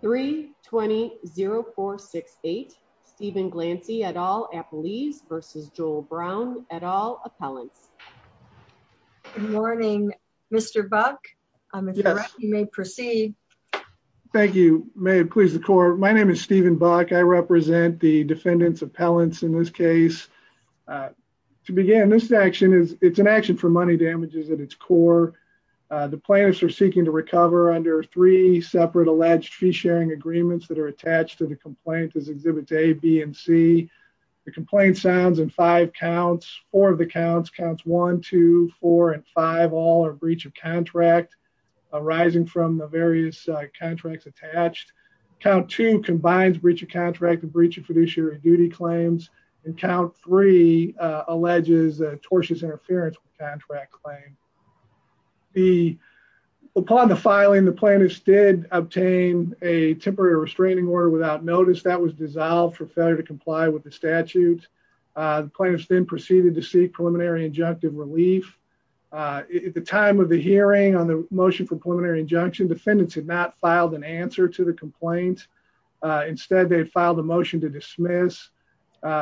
3 20 0 4 6 8 Stephen Glancy et al at police versus Joel Brown et al appellants good morning Mr. Buck um if you may proceed thank you may it please the court my name is Stephen Buck I represent the defendants appellants in this case uh to begin this action is it's an the plaintiffs are seeking to recover under three separate alleged fee-sharing agreements that are attached to the complaint as exhibits a b and c the complaint sounds in five counts four of the counts counts one two four and five all are breach of contract arising from the various contracts attached count two combines breach of contract and breach of fiduciary duty claims and count three uh alleges tortuous interference with contract claim the upon the filing the plaintiffs did obtain a temporary restraining order without notice that was dissolved for failure to comply with the statute uh the plaintiffs then proceeded to seek preliminary injunctive relief uh at the time of the hearing on the motion for preliminary injunction defendants had not filed an answer to the complaint instead they filed a motion to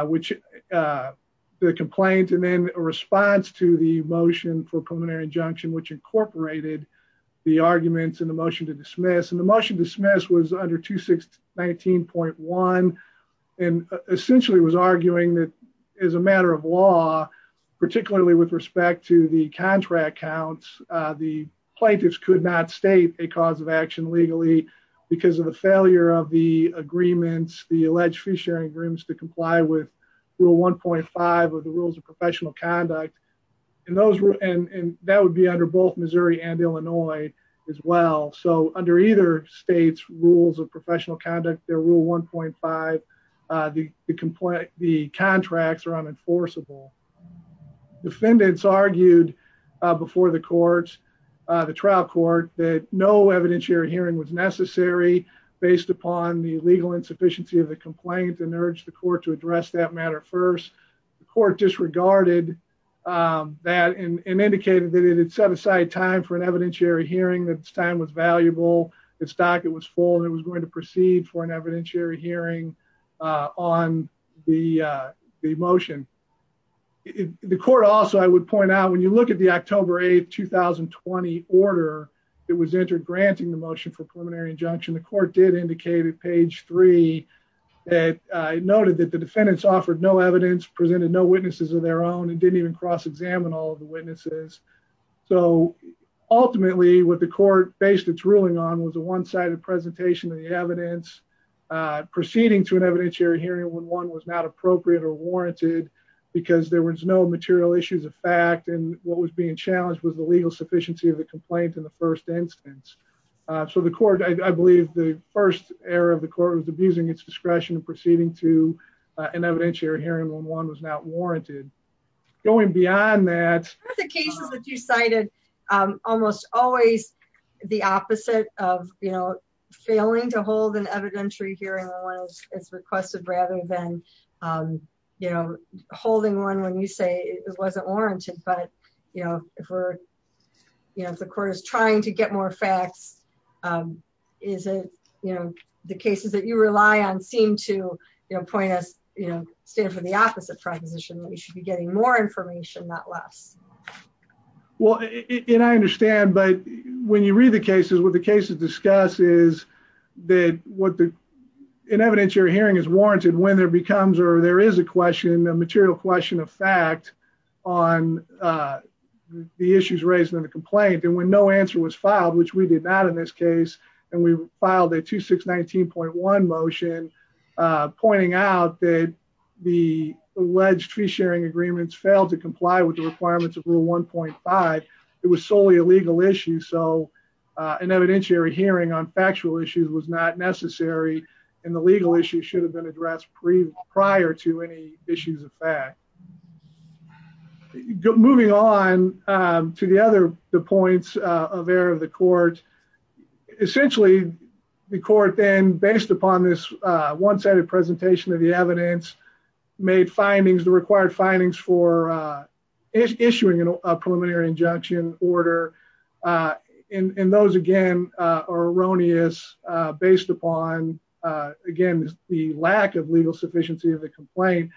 which uh the complaint and then a response to the motion for preliminary injunction which incorporated the arguments in the motion to dismiss and the motion dismissed was under 26 19.1 and essentially was arguing that as a matter of law particularly with respect to the contract counts the plaintiffs could not state a cause of action legally because of the failure of the agreements the alleged free sharing agreements to comply with rule 1.5 of the rules of professional conduct and those and and that would be under both Missouri and Illinois as well so under either states rules of professional conduct their rule 1.5 uh the the complaint the contracts are unenforceable defendants argued uh before the courts uh the trial court that no evidentiary hearing was necessary based upon the legal insufficiency of the complaint and urged the court to address that matter first the court disregarded um that and indicated that it had set aside time for an evidentiary hearing that time was valuable its docket was full and it was going to proceed for an evidentiary hearing uh on the uh the motion the court also i would point out when you look at the october 8th 2020 order that was entered granting the motion for preliminary injunction the court did indicate at page three that i noted that the defendants offered no evidence presented no witnesses of their own and didn't even cross-examine all of the witnesses so ultimately what the court based its ruling on was a one-sided presentation of the evidence uh proceeding to an evidentiary hearing when one was not appropriate or warranted because there was no material issues of fact and what was being challenged was the legal sufficiency of the complaint in the first instance so the court i believe the first error of the court was abusing its discretion proceeding to an evidentiary hearing when one was not warranted going beyond that the cases that you cited um almost always the opposite of you failing to hold an evidentiary hearing when one is requested rather than um you know holding one when you say it wasn't warranted but you know if we're you know if the court is trying to get more facts um is it you know the cases that you rely on seem to you know point us you know stand for the opposite proposition we should be getting more information not less well and i understand but when you read the cases what the cases discuss is that what the evidentiary hearing is warranted when there becomes or there is a question a material question of fact on uh the issues raised in the complaint and when no answer was filed which we did not in this case and we filed a 2619.1 motion uh pointing out that the alleged tree sharing agreements failed to comply with the legal issue so uh an evidentiary hearing on factual issues was not necessary and the legal issue should have been addressed pre prior to any issues of fact moving on um to the other the points uh of error of the court essentially the court then based upon this uh one-sided presentation of the evidence made findings the required findings for uh issuing a preliminary injunction order uh and and those again uh are erroneous uh based upon uh again the lack of legal sufficiency of the complaint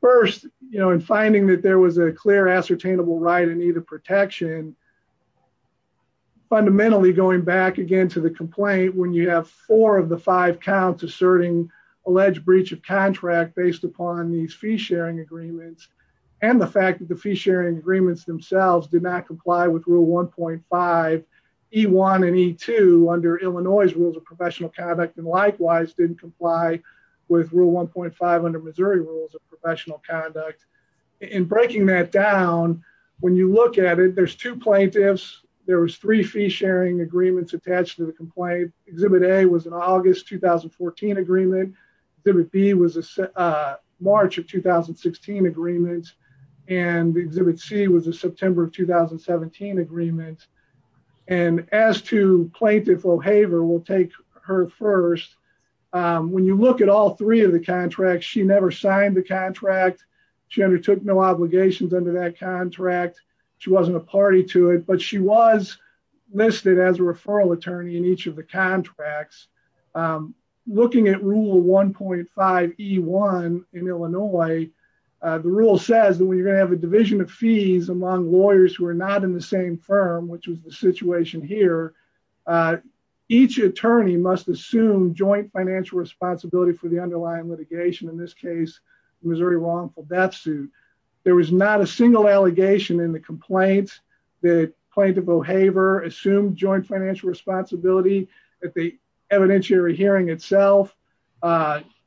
first you know and finding that there was a clear ascertainable right in need of protection fundamentally going back again to the complaint when you have four of the five counts asserting alleged breach of contract based upon these fee sharing agreements and the fact that the fee sharing agreements themselves did not comply with rule 1.5 e1 and e2 under illinois's rules of professional conduct and likewise didn't comply with rule 1.5 under missouri rules of professional conduct in breaking that down when you look at it there's two plaintiffs there was three fee sharing agreements attached to the complaint exhibit a was an august 2014 agreement exhibit b was a march of 2016 agreements and exhibit c was a september of 2017 agreement and as to plaintiff o'haver will take her first when you look at all three of the contracts she never signed the contract she undertook no obligations under that contract she wasn't a party to it but she was listed as a referral attorney in each of the contracts looking at rule 1.5 e1 in illinois the rule says that when you're going to have a division of fees among lawyers who are not in the same firm which was the situation here each attorney must assume joint financial responsibility for the underlying litigation in this case the missouri wrongful death suit there was not a single allegation in the complaint that plaintiff o'haver assumed joint financial responsibility at the evidentiary hearing itself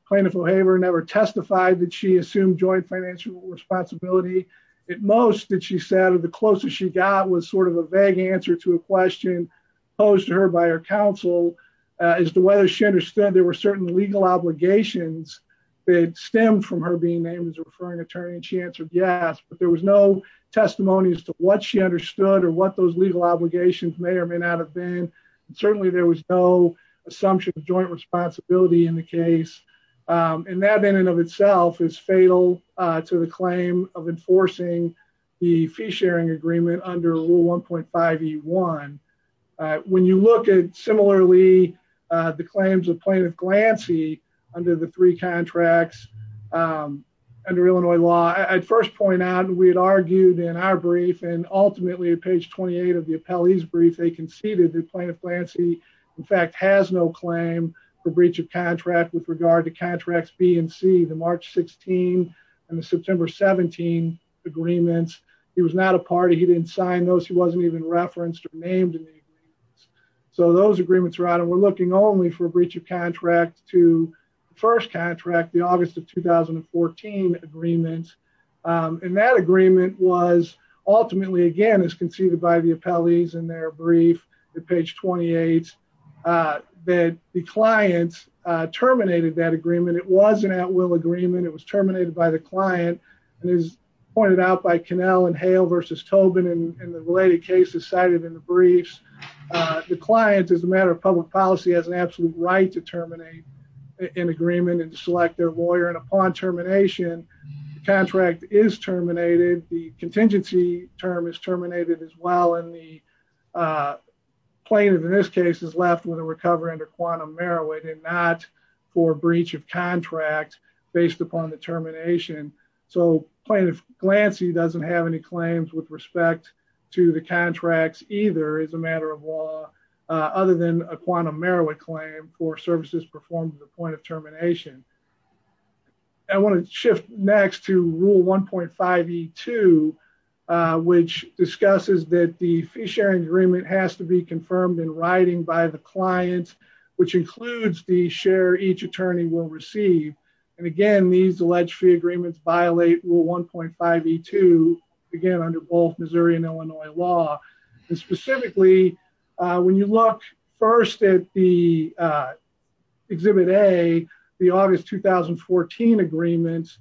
plaintiff o'haver never testified that she assumed joint financial responsibility at most that she said the closest she got was sort of a vague answer to a question posed to her by her counsel as to whether she understood there were certain legal obligations that stemmed from her being named as a referring attorney and she answered yes but there was no testimony as to what she understood or what those legal obligations may or may not have been and certainly there was no assumption of joint responsibility in the case and that in and of itself is fatal to the claim of enforcing the fee sharing agreement under rule 1.5 e1 when you look at similarly the claims of plaintiff glancy under the three contracts um under illinois law i'd first point out we had argued in our brief and ultimately at page 28 of the appellee's brief they conceded that plaintiff glancy in fact has no claim for breach of contract with regard to contracts b and c the march 16 and the september 17 agreements he was not a party he didn't sign those he wasn't even referenced or named in the agreements so those agreements are looking only for breach of contract to the first contract the august of 2014 agreements and that agreement was ultimately again as conceded by the appellees in their brief at page 28 uh that the clients uh terminated that agreement it wasn't at will agreement it was terminated by the client and as pointed out by canal and hail versus tobin and the related cases cited in the briefs uh the client as a matter of public policy has an absolute right to terminate an agreement and to select their lawyer and upon termination the contract is terminated the contingency term is terminated as well in the plaintiff in this case is left with a recovery under quantum merowit and not for breach of contract based upon the termination so plaintiff glancy doesn't have any claims with respect to the contracts either as a matter of law other than a quantum merowit claim for services performed at the point of termination i want to shift next to rule 1.5e2 which discusses that the fee sharing agreement has to be confirmed in writing by the client which includes the share each attorney will receive and again these alleged fee agreements violate rule 1.5e2 again under both missouri and illinois law and specifically uh when you look first at the uh exhibit a the august 2014 agreements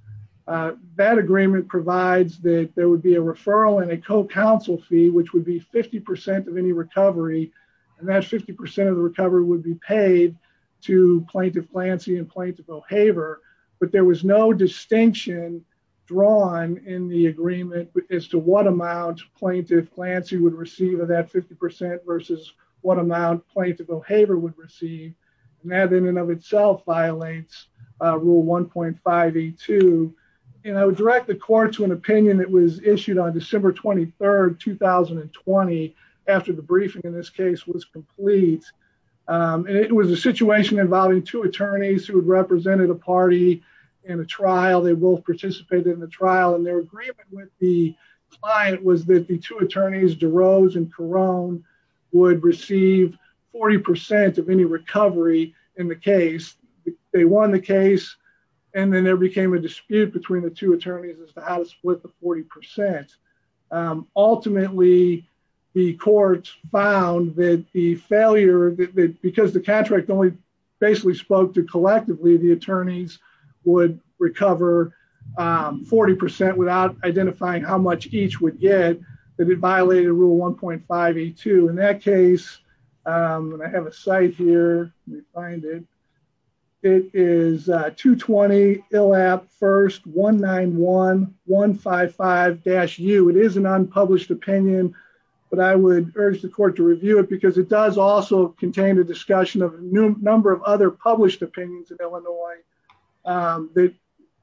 that agreement provides that there would be a referral and a co-counsel fee which would be 50 percent of any recovery and that's 50 percent of the recovery would be paid to plaintiff glancy and plaintiff o'haver but there was no distinction drawn in the agreement as to what amount plaintiff glancy would receive of that 50 percent versus what amount plaintiff o'haver would receive and that in and of itself violates rule 1.5e2 and i would direct the court to an opinion that was issued on december 23rd 2020 after the briefing in this case was complete and it was a situation involving two attorneys who had represented a party in a trial they both participated in the trial and their agreement with the client was that the two attorneys derose and carone would receive 40 percent of any recovery in the case they won the case and then there became a dispute between the two attorneys as because the contract only basically spoke to collectively the attorneys would recover 40 percent without identifying how much each would get that it violated rule 1.5e2 in that case and i have a site here let me find it it is 220 ill app first 191 155 dash u it is an unpublished opinion but i would urge the court to review it because it does also contain a discussion of a number of other published opinions in illinois that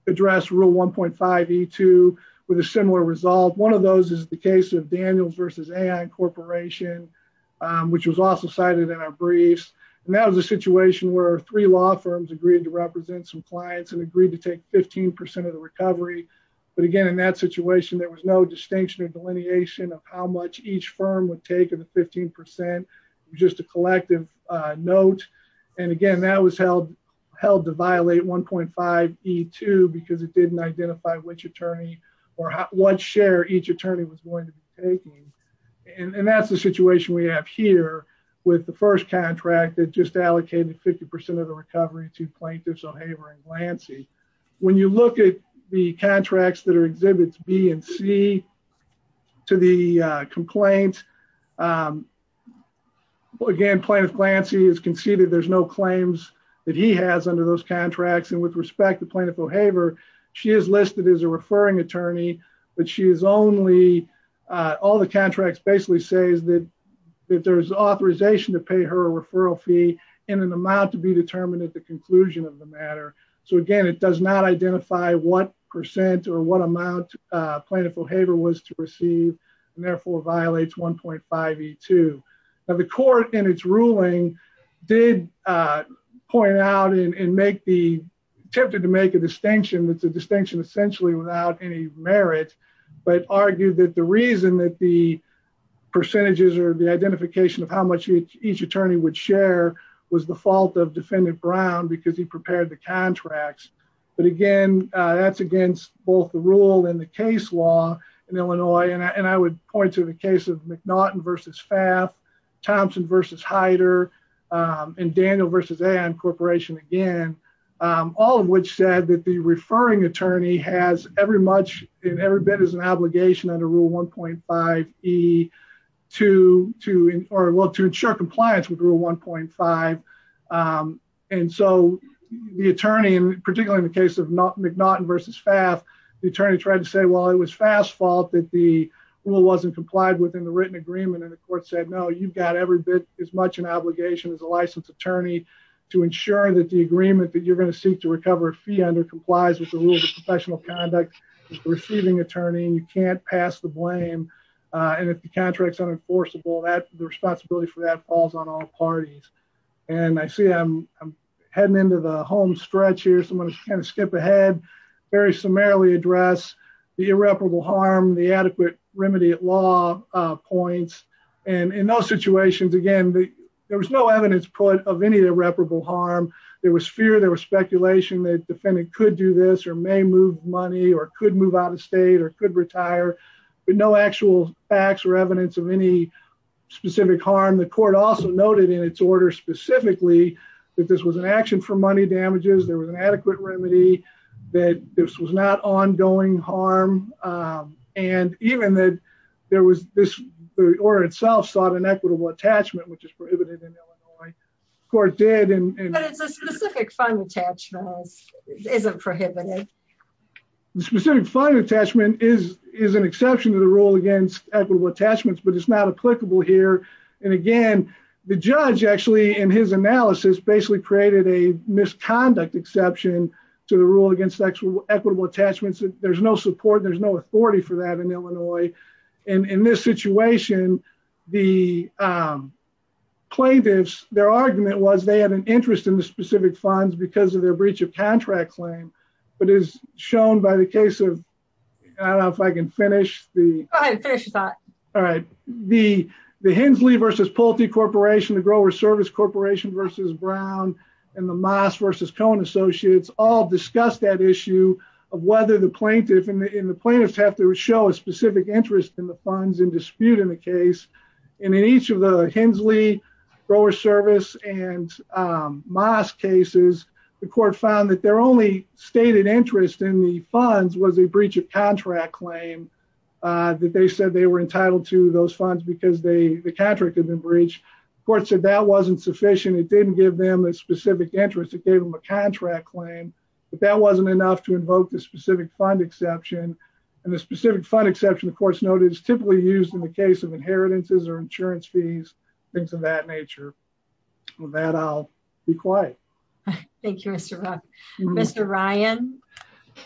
address rule 1.5e2 with a similar result one of those is the case of daniels versus ai incorporation which was also cited in our briefs and that was a situation where three law firms agreed to represent some clients and agreed to how much each firm would take in the 15 just a collective note and again that was held held to violate 1.5e2 because it didn't identify which attorney or what share each attorney was going to be taking and that's the situation we have here with the first contract that just allocated 50 of the recovery to plaintiffs o'haver and glancy when you look at the contracts that are complained again plaintiff glancy is conceded there's no claims that he has under those contracts and with respect to plaintiff o'haver she is listed as a referring attorney but she is only uh all the contracts basically says that that there's authorization to pay her a referral fee in an amount to be determined at the conclusion of the matter so again it does not identify what or what amount plaintiff o'haver was to receive and therefore violates 1.5e2 now the court in its ruling did uh point out and make the attempted to make a distinction that's a distinction essentially without any merit but argued that the reason that the percentages or the identification of how much each attorney would share was the fault of defendant brown because he prepared the both the rule and the case law in illinois and i would point to the case of mcnaughton versus faf thompson versus heider and daniel versus and corporation again all of which said that the referring attorney has every much and every bit as an obligation under rule 1.5e to to or well to ensure compliance with rule 1.5 um and so the attorney and particularly in the the attorney tried to say well it was fast fault that the rule wasn't complied within the written agreement and the court said no you've got every bit as much an obligation as a licensed attorney to ensure that the agreement that you're going to seek to recover a fee under complies with the rules of professional conduct receiving attorney you can't pass the blame uh and if the contract's unenforceable that the responsibility for that falls on all parties and i see i'm i'm heading into the home stretch here so i'm going to kind of skip ahead very summarily address the irreparable harm the adequate remedy at law uh points and in those situations again there was no evidence put of any irreparable harm there was fear there was speculation that defendant could do this or may move money or could move out of state or could retire but no actual facts or evidence of any specific harm the court also noted in its order specifically that this was an action for money damages there was an adequate remedy that this was not ongoing harm um and even that there was this the order itself sought an equitable attachment which is prohibited in illinois the court did and but it's a specific fund attachment isn't prohibited the specific here and again the judge actually in his analysis basically created a misconduct exception to the rule against sexual equitable attachments there's no support there's no authority for that in illinois and in this situation the um plaintiffs their argument was they had an interest in the specific funds because of their breach of contract claim but as shown by the case of i don't know if i can finish the all right the the hensley versus polty corporation the grower service corporation versus brown and the moss versus cohen associates all discussed that issue of whether the plaintiff and the plaintiffs have to show a specific interest in the funds and dispute in the case and in each of the hensley grower service and um moss cases the court found that their only stated interest in the funds was a breach of contract claim uh that they said they were entitled to those funds because they the contract had been breached the court said that wasn't sufficient it didn't give them a specific interest it gave them a contract claim but that wasn't enough to invoke the specific fund exception and the specific fund exception of course noted is typically used in the case of inheritances or insurance fees things of that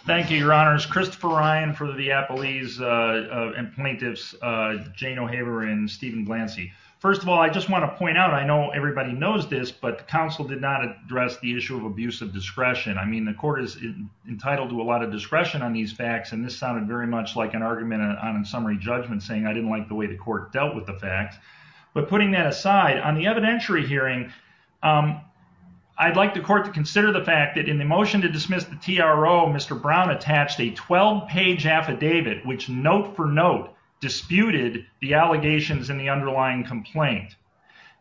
thank you your honors christopher ryan for the viapolese uh and plaintiffs uh jane o'haver and stephen glancy first of all i just want to point out i know everybody knows this but the council did not address the issue of abuse of discretion i mean the court is entitled to a lot of discretion on these facts and this sounded very much like an argument on summary judgment saying i didn't like the way the court dealt with the fact but putting that aside on the evidentiary hearing um i'd like the court to consider the fact that in the motion to dismiss the tro mr brown attached a 12 page affidavit which note for note disputed the allegations in the underlying complaint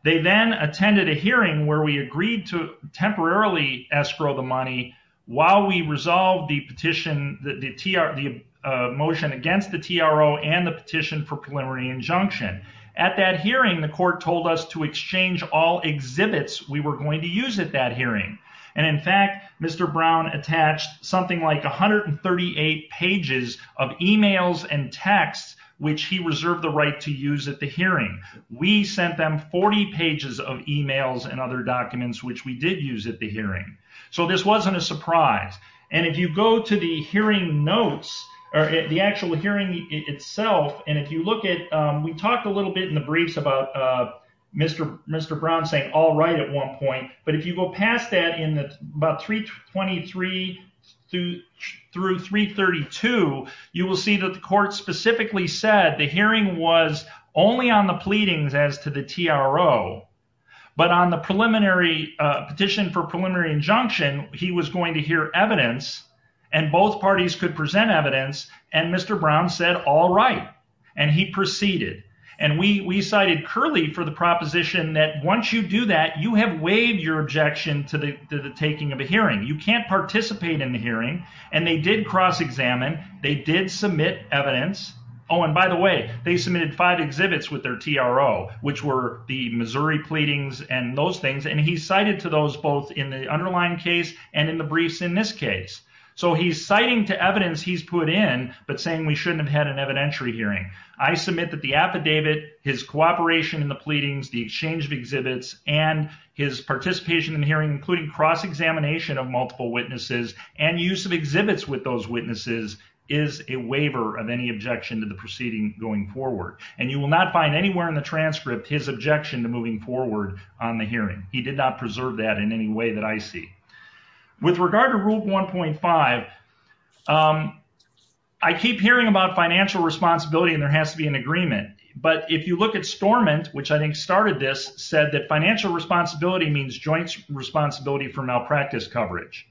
they then attended a hearing where we agreed to temporarily escrow the money while we resolved the petition the tr the motion against the tro and the petition for preliminary injunction at that hearing the court told us to exchange all exhibits we were going to use at that hearing and in fact mr brown attached something like 138 pages of emails and texts which he reserved the right to use at the hearing we sent them 40 pages of emails and other documents which we did use at the hearing so this wasn't a surprise and if you go to the hearing notes or the actual hearing itself and if you look at we talked a little bit in the briefs about uh mr mr brown saying all right at one point but if you go past that in the about 323 through 332 you will see that the court specifically said the hearing was only on the pleadings as to the tro but on the preliminary petition for preliminary injunction he was going to hear evidence and both parties could present evidence and mr brown said all right and he proceeded and we we cited curly for the proposition that once you do that you have waived your objection to the taking of a hearing you can't participate in the hearing and they did cross-examine they did submit evidence oh and by the way they submitted five exhibits with their tro which were the missouri pleadings and those things and he cited to those both in the underlying case and in the briefs in this case so he's citing to evidence he's put in but saying we shouldn't have had an evidentiary hearing i submit that the affidavit his cooperation in the pleadings the exchange of exhibits and his participation in hearing including cross-examination of multiple witnesses and use of exhibits with those witnesses is a waiver of any objection to the proceeding going forward and you will not find anywhere in the transcript his objection to moving forward on the hearing he did not preserve that in any way that i see with regard to rule 1.5 um i keep hearing about financial responsibility and there has to be an agreement but if you look at stormant which i think started this said that financial responsibility means joint responsibility for malpractice coverage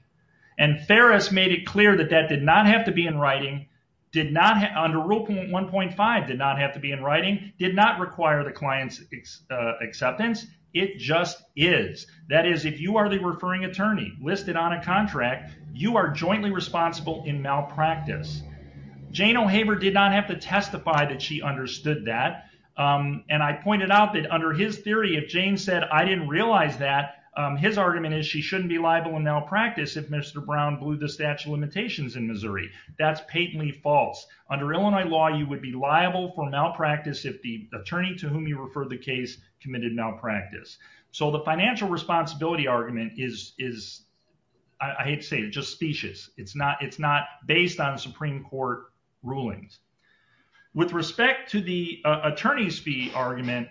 and ferris made it clear that that did not have to be in writing did not under rule 1.5 did not have to be in writing did not require the client's acceptance it just is that is if you are the referring attorney listed on a contract you are jointly responsible in malpractice jane o'haver did not have to testify that she understood that um and i pointed out that under his theory if jane said i didn't realize that um his argument is she shouldn't be liable in malpractice if mr brown blew the statute of limitations in missouri that's patently false under illinois law you would be liable for malpractice if the attorney to whom you refer the case committed malpractice so the financial responsibility argument is is i hate to say it just specious it's not it's not based on supreme court rulings with respect to the attorney's fee argument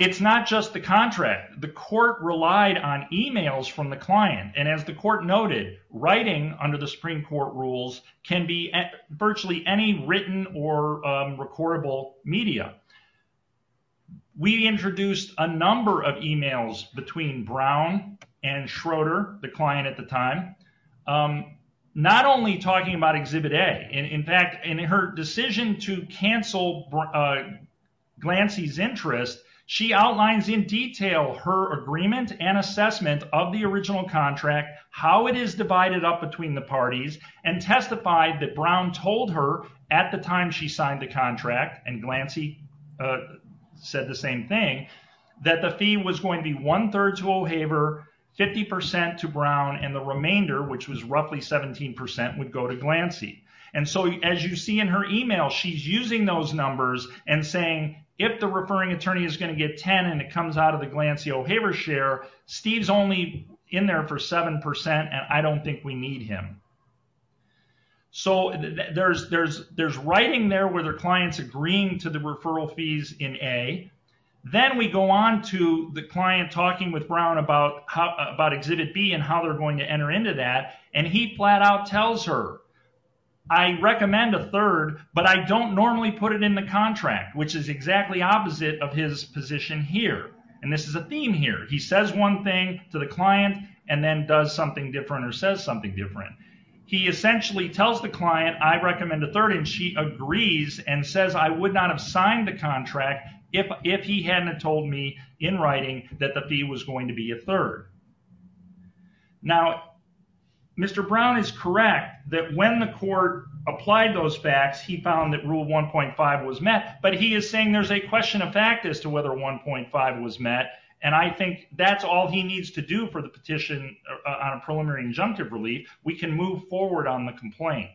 it's not just the contract the court relied on emails from the client and as the court noted writing under the supreme court rules can be virtually any written or recordable media we introduced a number of emails between brown and schroeder the client at the time not only talking about exhibit a in fact in her decision to cancel glancy's interest she outlines in detail her agreement and assessment of the original contract how it is divided up between the parties and testified that brown told her at the time she signed the contract and glancy said the same thing that the fee was going to be one-third to o'haver 50 to brown and the remainder which was roughly 17 would go to glancy and so as you see in her email she's using those numbers and saying if the referring attorney is 10 and it comes out of the glancy o'haver share steve's only in there for seven percent and i don't think we need him so there's there's there's writing there where their clients agreeing to the referral fees in a then we go on to the client talking with brown about how about exhibit b and how they're going to enter into that and he flat out tells her i recommend a third but i don't normally put it in the contract which is exactly opposite of his position here and this is a theme here he says one thing to the client and then does something different or says something different he essentially tells the client i recommend a third and she agrees and says i would not have signed the contract if if he hadn't told me in writing that the fee was going to be a third now mr brown is correct that when the court applied those facts he found that rule 1.5 was met but he is saying there's a question of fact as to whether 1.5 was met and i think that's all he needs to do for the petition on a preliminary injunctive relief we can move forward on the complaint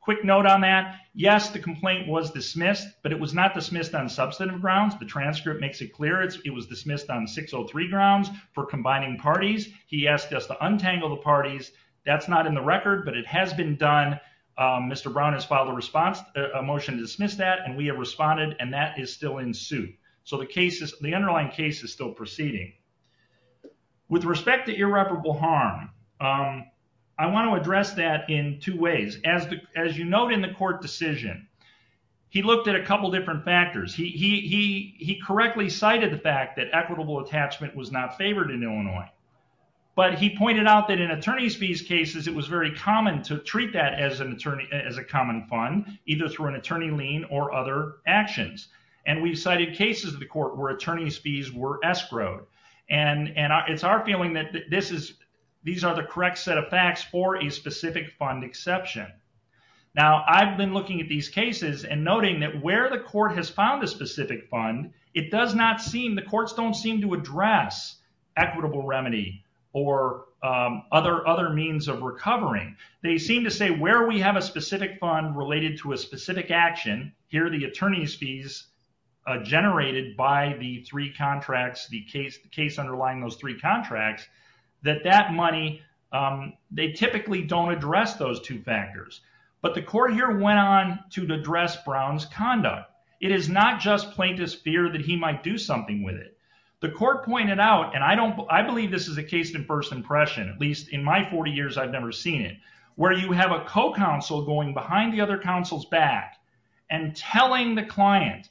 quick note on that yes the complaint was dismissed but it was not dismissed on substantive grounds the transcript makes it clear it was dismissed on 603 grounds for combining parties he asked us to untangle the parties that's not in the record but it has been done um mr brown has filed a response a motion to dismiss that and we have responded and that is still in suit so the case is the underlying case is still proceeding with respect to irreparable harm um i want to address that in two ways as the as you note in the court decision he looked at a couple different factors he he he correctly cited the fact that equitable attachment was not favored in illinois but he pointed out that in attorney's fees cases it was very common to treat that as an attorney as a common fund either through an attorney lien or other actions and we've cited cases of the court where attorney's fees were escrowed and and it's our feeling that this is these are the correct set of facts for a specific fund exception now i've been looking at these cases and noting that where the court has found a specific fund it does not seem the courts don't seem to address equitable remedy or um other other means of recovering they seem to say where we have a specific fund related to a specific action here the attorney's fees generated by the three contracts the case the case underlying those three contracts that that money um they typically don't address those two factors but the court here went on to address brown's conduct it is not just plaintiff's fear that he might do something with it the court pointed out and i don't i believe this is a case of first impression at least in my 40 years i've never seen it where you have a co-counsel going behind the other counsel's back and telling the client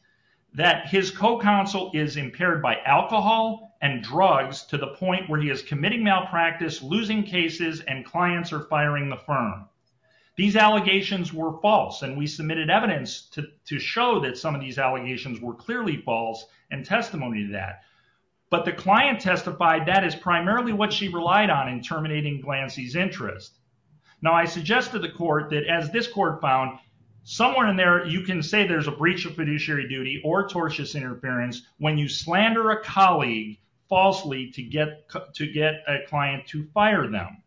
that his co-counsel is impaired by alcohol and drugs to the point where he is committing malpractice losing cases and clients are firing the firm these allegations were false and we submitted evidence to to show that some of these allegations were clearly false and testimony to that but the client testified that is primarily what she relied on in terminating glancy's interest now i suggested the court that as this court found somewhere in there you can say there's a breach of fiduciary duty or tortious interference when you slander a colleague falsely to get to get a client to fire them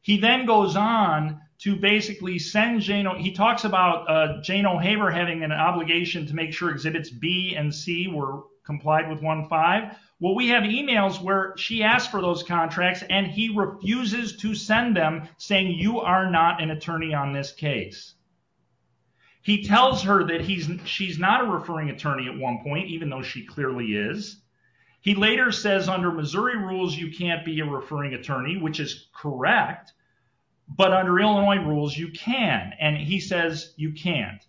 he then goes on to basically send jano he talks about uh jane o'haver having an obligation to make sure exhibits b and c were complied with one five well we have emails where she asked for those contracts and he refuses to send them saying you are not an attorney on this case he tells her that he's she's not a referring attorney at one point even though she clearly is he later says under referring attorney which is correct but under illinois rules you can and he says you can't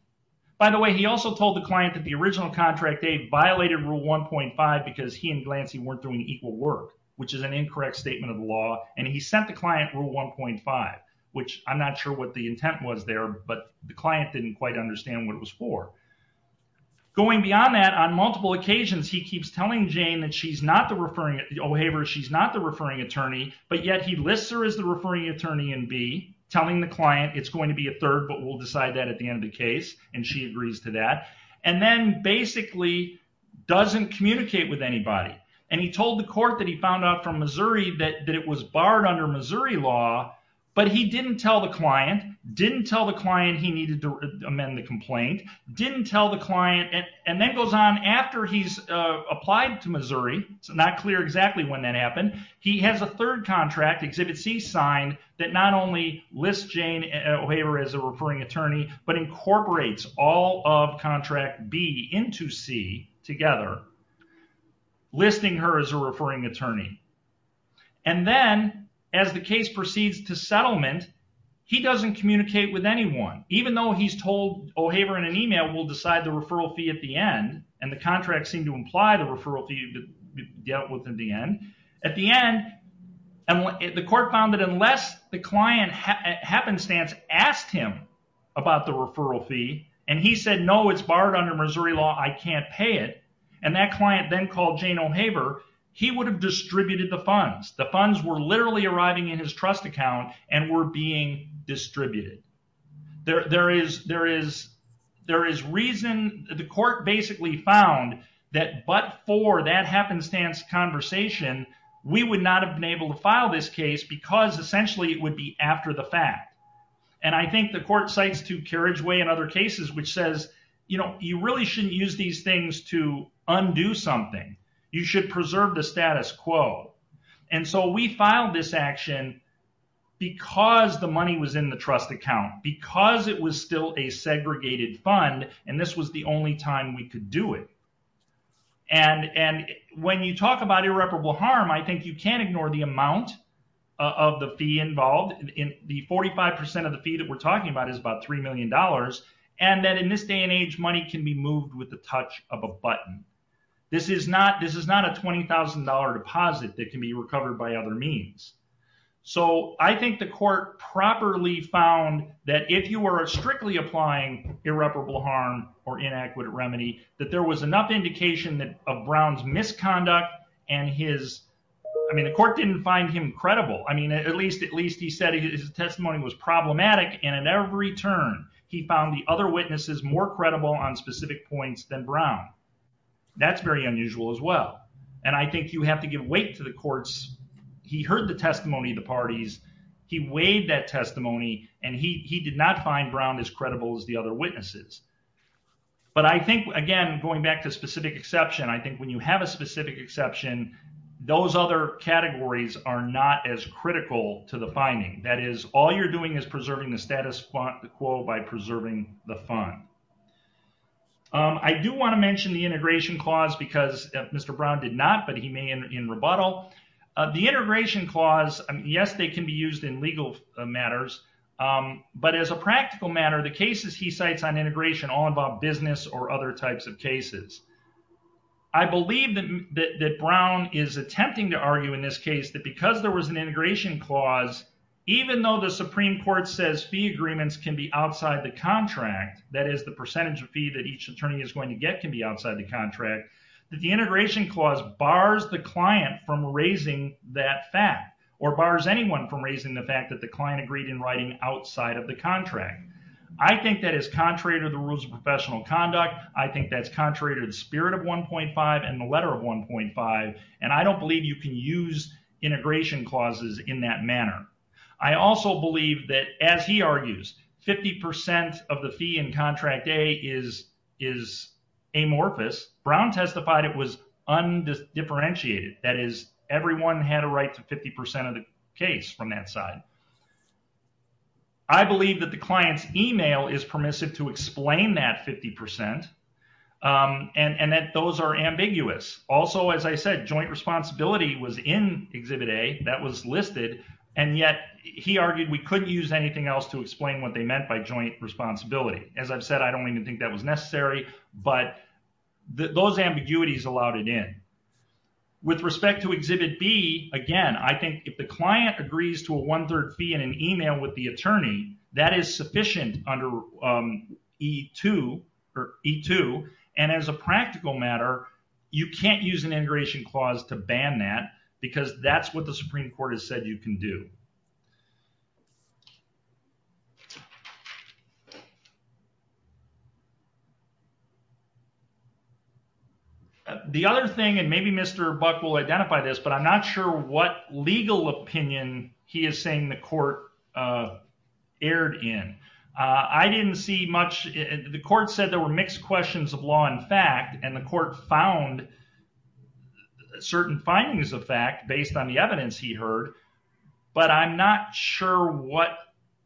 by the way he also told the client that the original contract they violated rule 1.5 because he and glancy weren't doing equal work which is an incorrect statement of the law and he sent the client rule 1.5 which i'm not sure what the intent was there but the client didn't quite understand what it was for going beyond that on multiple occasions he keeps telling jane that she's not referring o'haver she's not the referring attorney but yet he lists her as the referring attorney and b telling the client it's going to be a third but we'll decide that at the end of the case and she agrees to that and then basically doesn't communicate with anybody and he told the court that he found out from missouri that that it was barred under missouri law but he didn't tell the client didn't tell the client he needed to amend the complaint didn't tell the client and then goes on after he's uh applied to missouri it's not clear exactly when that happened he has a third contract exhibit c signed that not only lists jane o'haver as a referring attorney but incorporates all of contract b into c together listing her as a referring attorney and then as the case proceeds to settlement he doesn't communicate with anyone even though he's told o'haver in an email will decide the referral fee at the end and the contracts seem to imply the referral fee to get within the end at the end and the court found that unless the client happenstance asked him about the referral fee and he said no it's barred under missouri law i can't pay it and that client then called jane o'haver he would have distributed the funds the funds were there is reason the court basically found that but for that happenstance conversation we would not have been able to file this case because essentially it would be after the fact and i think the court cites to carriageway in other cases which says you know you really shouldn't use these things to undo something you should preserve the status quo and so we filed this action because the money was in the trust account because it was still a segregated fund and this was the only time we could do it and and when you talk about irreparable harm i think you can't ignore the amount of the fee involved in the 45 percent of the fee that we're talking about is about three million dollars and that in this day and age money can be moved with the touch of a so i think the court properly found that if you were strictly applying irreparable harm or inadequate remedy that there was enough indication that of brown's misconduct and his i mean the court didn't find him credible i mean at least at least he said his testimony was problematic and in every turn he found the other witnesses more credible on specific points than brown that's very unusual as well and i think you have to give weight to the courts he heard the testimony of the parties he weighed that testimony and he he did not find brown as credible as the other witnesses but i think again going back to specific exception i think when you have a specific exception those other categories are not as critical to the finding that is all you're doing is preserving the status quo by preserving the fund i do want to mention the integration clause because mr brown did not but he may in rebuttal the integration clause yes they can be used in legal matters but as a practical matter the cases he cites on integration all involve business or other types of cases i believe that that brown is attempting to argue in this case that because there was an integration clause even though the supreme court says fee agreements can be outside the contract that is the percentage of fee that each attorney is going to get can be outside the contract that the integration clause bars the client from raising that fact or bars anyone from raising the fact that the client agreed in writing outside of the contract i think that is contrary to the rules of professional conduct i think that's contrary to the spirit of 1.5 and the letter of 1.5 and i don't believe you can use integration clauses in that manner i also believe that as he argues 50 of the fee in contract a is is amorphous brown testified it was undifferentiated that is everyone had a right to 50 of the case from that side i believe that the client's email is permissive to explain that 50 um and and that those are ambiguous also as i said joint responsibility was in exhibit a that was listed and yet he argued we couldn't use anything else to explain what they meant by joint responsibility as i've said i don't even think that was necessary but those ambiguities allowed it in with respect to exhibit b again i think if the client agrees to a one-third fee in an email with the attorney that is sufficient under um e2 or e2 and as a practical matter you can't use an integration clause to ban that because that's what the supreme court has said you can do the other thing and maybe mr buck will identify this but i'm not sure what legal opinion he is saying the court uh aired in uh i didn't see much the court said were mixed questions of law and fact and the court found certain findings of fact based on the evidence he heard but i'm not sure what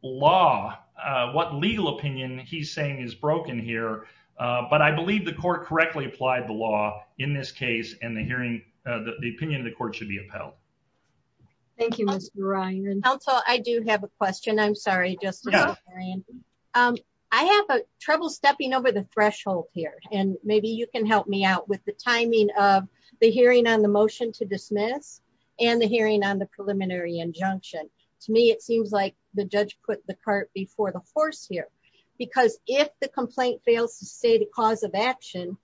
law uh what legal opinion he's saying is broken here but i believe the court correctly applied the law in this case and the hearing uh the opinion of the court should be upheld thank you mr ryan counsel i do have a question i'm sorry just um i have a trouble stepping over the threshold here and maybe you can help me out with the timing of the hearing on the motion to dismiss and the hearing on the preliminary injunction to me it seems like the judge put the cart before the horse here because if the complaint fails to say the cause of action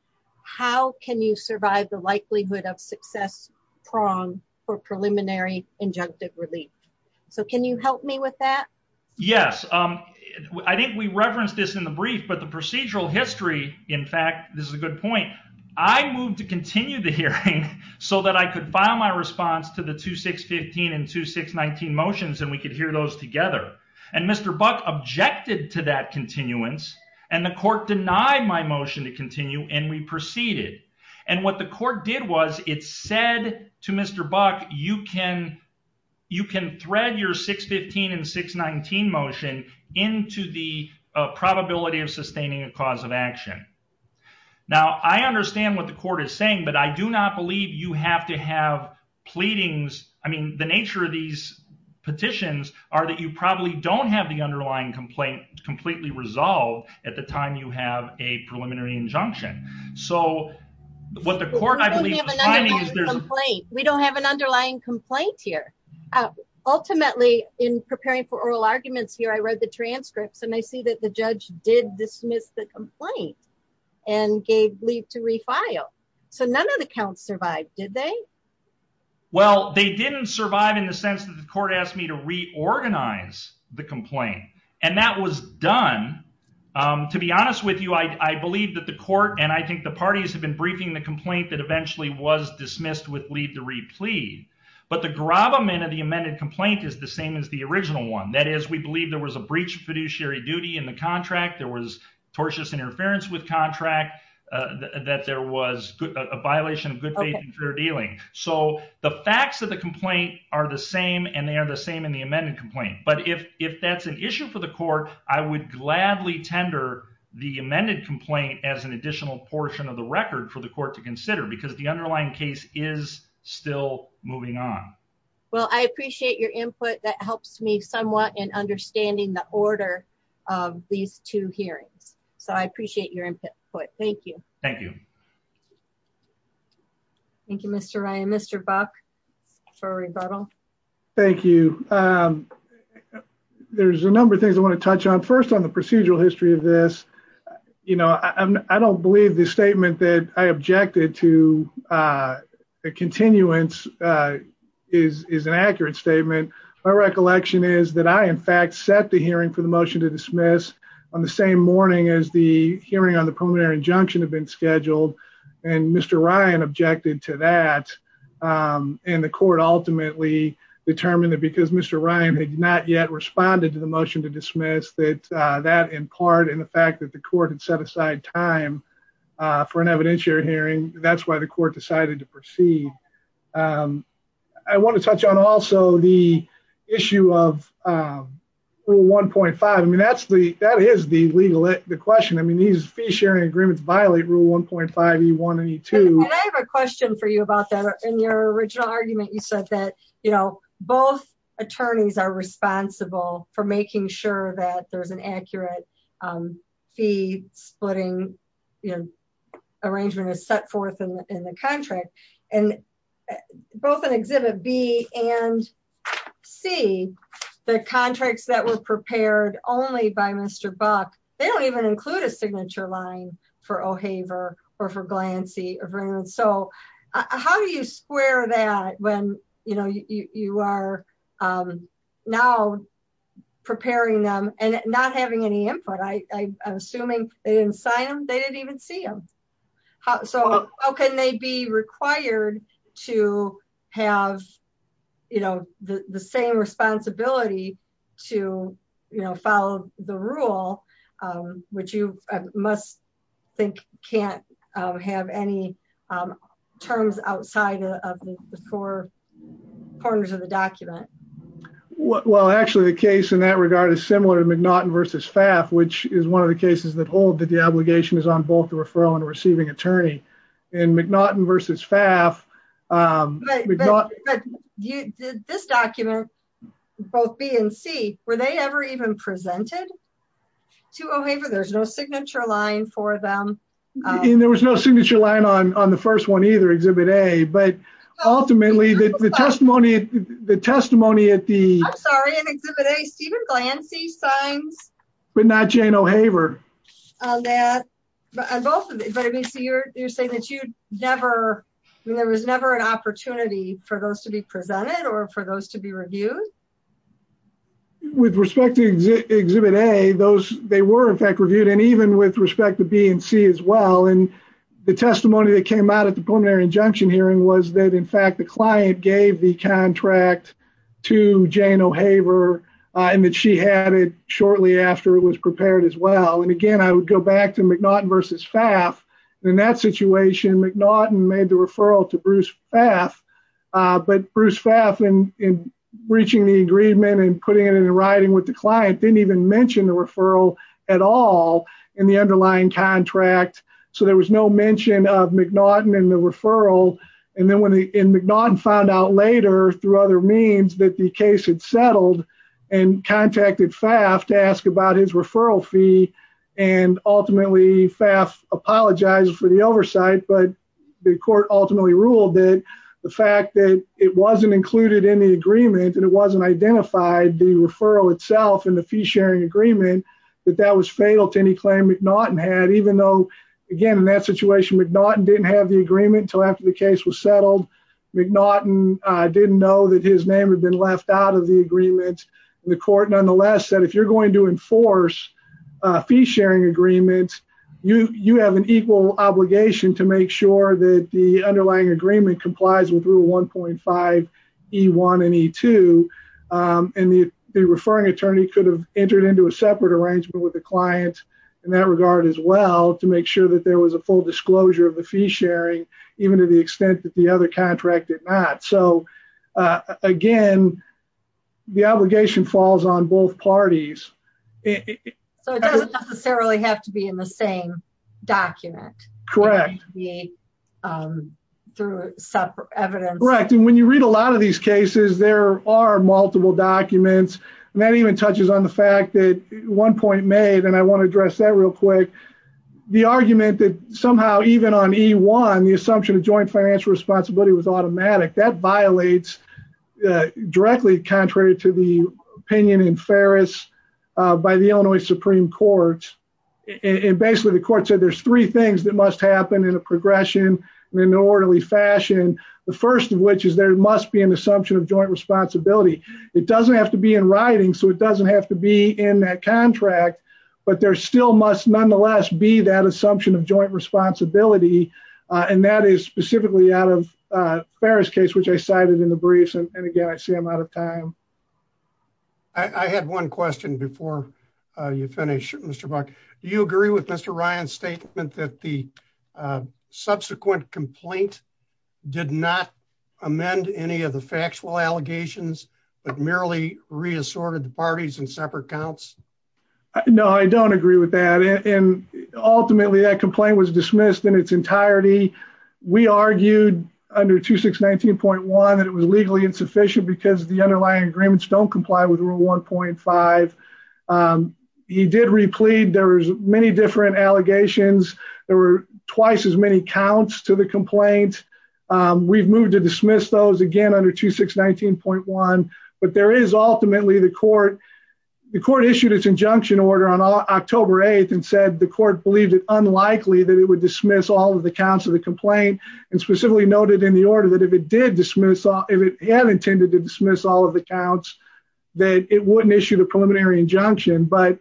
how can you survive the likelihood of success prong for preliminary injunctive relief so can you help me with that yes um i think we referenced this in the brief but the procedural history in fact this is a good point i moved to continue the hearing so that i could file my response to the 2615 and 2619 motions and we could hear those together and mr buck objected to that continuance and the court denied my motion to continue and we proceeded and what the court did was it said to mr buck you can you can thread your 615 and 619 motion into the probability of sustaining a cause of action now i understand what the court is saying but i do not believe you have to have pleadings i mean the nature of these petitions are that you probably don't have the underlying complaint completely resolved at the time you have a what the court we don't have an underlying complaint here ultimately in preparing for oral arguments here i read the transcripts and i see that the judge did dismiss the complaint and gave leave to refile so none of the counts survived did they well they didn't survive in the sense that the court asked me to reorganize the complaint and that was done um to be honest with you i i believe that the court and i think the parties have been briefing the complaint that eventually was dismissed with leave to replead but the grab amendment of the amended complaint is the same as the original one that is we believe there was a breach of fiduciary duty in the contract there was tortious interference with contract uh that there was a violation of good faith and fair dealing so the facts of the complaint are the same and they are the same in but if if that's an issue for the court i would gladly tender the amended complaint as an additional portion of the record for the court to consider because the underlying case is still moving on well i appreciate your input that helps me somewhat in understanding the order of these two hearings so i appreciate your input thank you thank you thank you mr ryan mr buck for a rebuttal thank you um there's a number of things i want to touch on first on the procedural history of this you know i i don't believe the statement that i objected to uh the continuance uh is is an accurate statement my recollection is that i in fact set the hearing for the motion to dismiss on the same morning as the hearing on the preliminary injunction had been scheduled and mr ryan objected to that um and the court ultimately determined that because mr ryan had not yet responded to the motion to dismiss that uh that in part in the fact that the court had set aside time uh for an evidentiary hearing that's why the court decided to proceed um i want to touch on also the issue of um rule 1.5 i mean that's the that is the legal the question i mean these fee sharing agreements violate rule 1.5 e1 and e2 and i have a question for you about that in your original argument you said that you know both attorneys are responsible for making sure that there's an accurate um fee splitting you know arrangement is set forth in the contract and both in exhibit b and c the contracts that were prepared only by mr buck they don't even include a signature line for o'haver or for glancy or for anyone so how do you square that when you know you you are um now preparing them and not having any input i i'm assuming they didn't sign them they didn't even see them so how can they be required to have you know the the same responsibility to you know follow the rule which you must think can't have any terms outside of the four corners of the document well actually the case in that regard is similar to mcnaughton versus faf which is one of the cases that hold that the obligation is on both the referral and receiving attorney and mcnaughton versus faf um but this document both b and c were they ever even presented to o'haver there's no signature line for them and there was no signature line on on the first one either exhibit a but ultimately the testimony the testimony at the i'm sorry stephen glancy signs but not jane o'haver on that but on both of it but i mean so you're you're saying that you never i mean there was never an opportunity for those to be presented or for those to be reviewed with respect to exhibit a those they were in fact reviewed and even with respect to b and c as well and the testimony that came out at the preliminary injunction hearing was that in fact the client gave the contract to jane o'haver and that she had it shortly after it was prepared as well and again i would go back to mcnaughton versus faf in that situation mcnaughton made the referral to bruce faf uh but bruce faf and in reaching the agreement and putting it in writing with the client didn't even mention the referral at all in the underlying contract so there was no mention of mcnaughton in the referral and then when the mcnaughton found out later through other means that the case had settled and contacted faf to ask about his referral fee and ultimately faf apologized for the oversight but the court ultimately ruled that the fact that it wasn't included in the agreement and it wasn't identified the referral itself in the fee-sharing agreement that that was fatal to any claim mcnaughton had even though again in that situation mcnaughton didn't have the agreement until after the case was settled mcnaughton uh didn't know that his name had been left out of the agreement the court nonetheless said if you're going to enforce uh fee-sharing agreements you you have an equal obligation to make sure that the underlying agreement complies with rule 1.5 e1 and e2 and the the referring attorney could have entered into a separate arrangement with the client in that regard as well to make sure that there was a full disclosure of the fee-sharing even to the extent that the other contract did not so uh again the obligation falls on both parties so it doesn't necessarily have to be in the same document correct the um through separate evidence correct and when you read a lot of these cases there are multiple documents and that even touches on the fact that one point made and i want to address that real quick the argument that somehow even on e1 the assumption of joint financial responsibility was automatic that violates directly contrary to the opinion in ferris uh by the illinois supreme court and basically the court said there's three things that must happen in a progression in an orderly fashion the first of which is there must be an assumption of joint responsibility it doesn't have to be in writing so it doesn't have to be in that contract but there still must nonetheless be that assumption of joint responsibility and that is specifically out of ferris case which i cited in the briefs and again i see i'm out of time i i had one question before uh you finish mr buck do you agree with mr ryan's amend any of the factual allegations but merely reassorted the parties in separate counts no i don't agree with that and ultimately that complaint was dismissed in its entirety we argued under 2619.1 that it was legally insufficient because the underlying agreements don't comply with rule 1.5 um he did replete there's many different allegations there were to dismiss those again under 2619.1 but there is ultimately the court the court issued its injunction order on october 8th and said the court believed it unlikely that it would dismiss all of the counts of the complaint and specifically noted in the order that if it did dismiss all if it had intended to dismiss all of the counts that it wouldn't issue the preliminary injunction but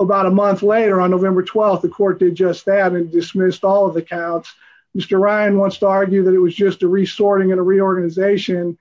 about a month later on november 12th the court did just that and dismissed all of the counts mr ryan wants to argue that it was just a resorting and a reorganization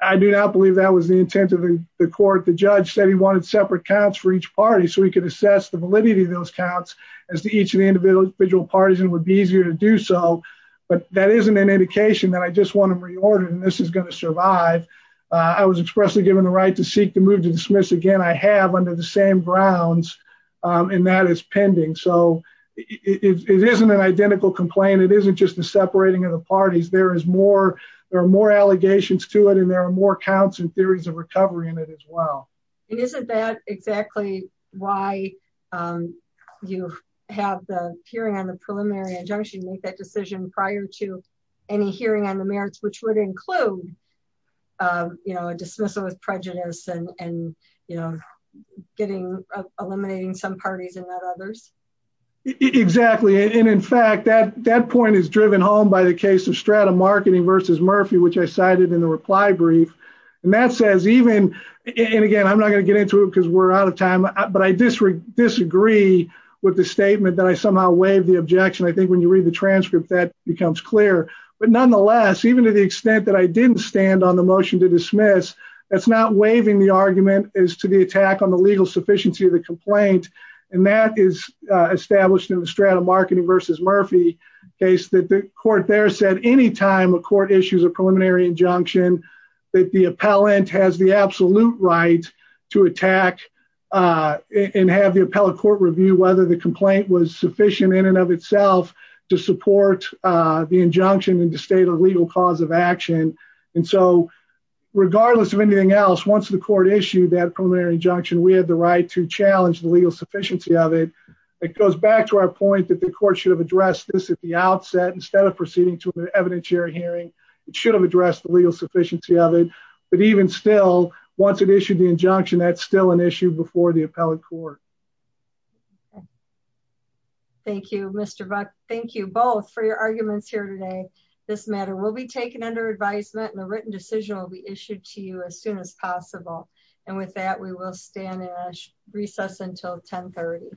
i do not believe that was the intent of the court the judge said he wanted separate counts for each party so he could assess the validity of those counts as to each of the individual parties and would be easier to do so but that isn't an indication that i just want to reorder and this is going to survive i was expressly given the right to seek to move to dismiss again i have under the same grounds and that is pending so it isn't an identical complaint it isn't just the separating of the parties there is more there are more allegations to it and there are more counts and theories of recovery in it as well and isn't that exactly why um you have the hearing on the preliminary injunction make that decision prior to any hearing on the merits which would include uh you know a dismissal with prejudice and and you know getting eliminating some parties and not others exactly and in fact that that point is driven home by the case of strata marketing versus murphy which i cited in the reply brief and that says even and again i'm not going to get into it because we're out of time but i disagree disagree with the statement that i somehow waived the objection i think when you read the transcript that becomes clear but nonetheless even to the stand on the motion to dismiss that's not waiving the argument is to the attack on the legal sufficiency of the complaint and that is established in the strata marketing versus murphy case that the court there said any time a court issues a preliminary injunction that the appellant has the absolute right to attack uh and have the appellate court review whether the complaint was sufficient in and of itself to support uh the injunction in the state legal cause of action and so regardless of anything else once the court issued that preliminary injunction we had the right to challenge the legal sufficiency of it it goes back to our point that the court should have addressed this at the outset instead of proceeding to an evidentiary hearing it should have addressed the legal sufficiency of it but even still once it issued the injunction that's still an issue before the appellate court okay thank you mr buck thank you both for your arguments here today this matter will be taken under advisement and the written decision will be issued to you as soon as possible and with that we will stand in a recess until 10 30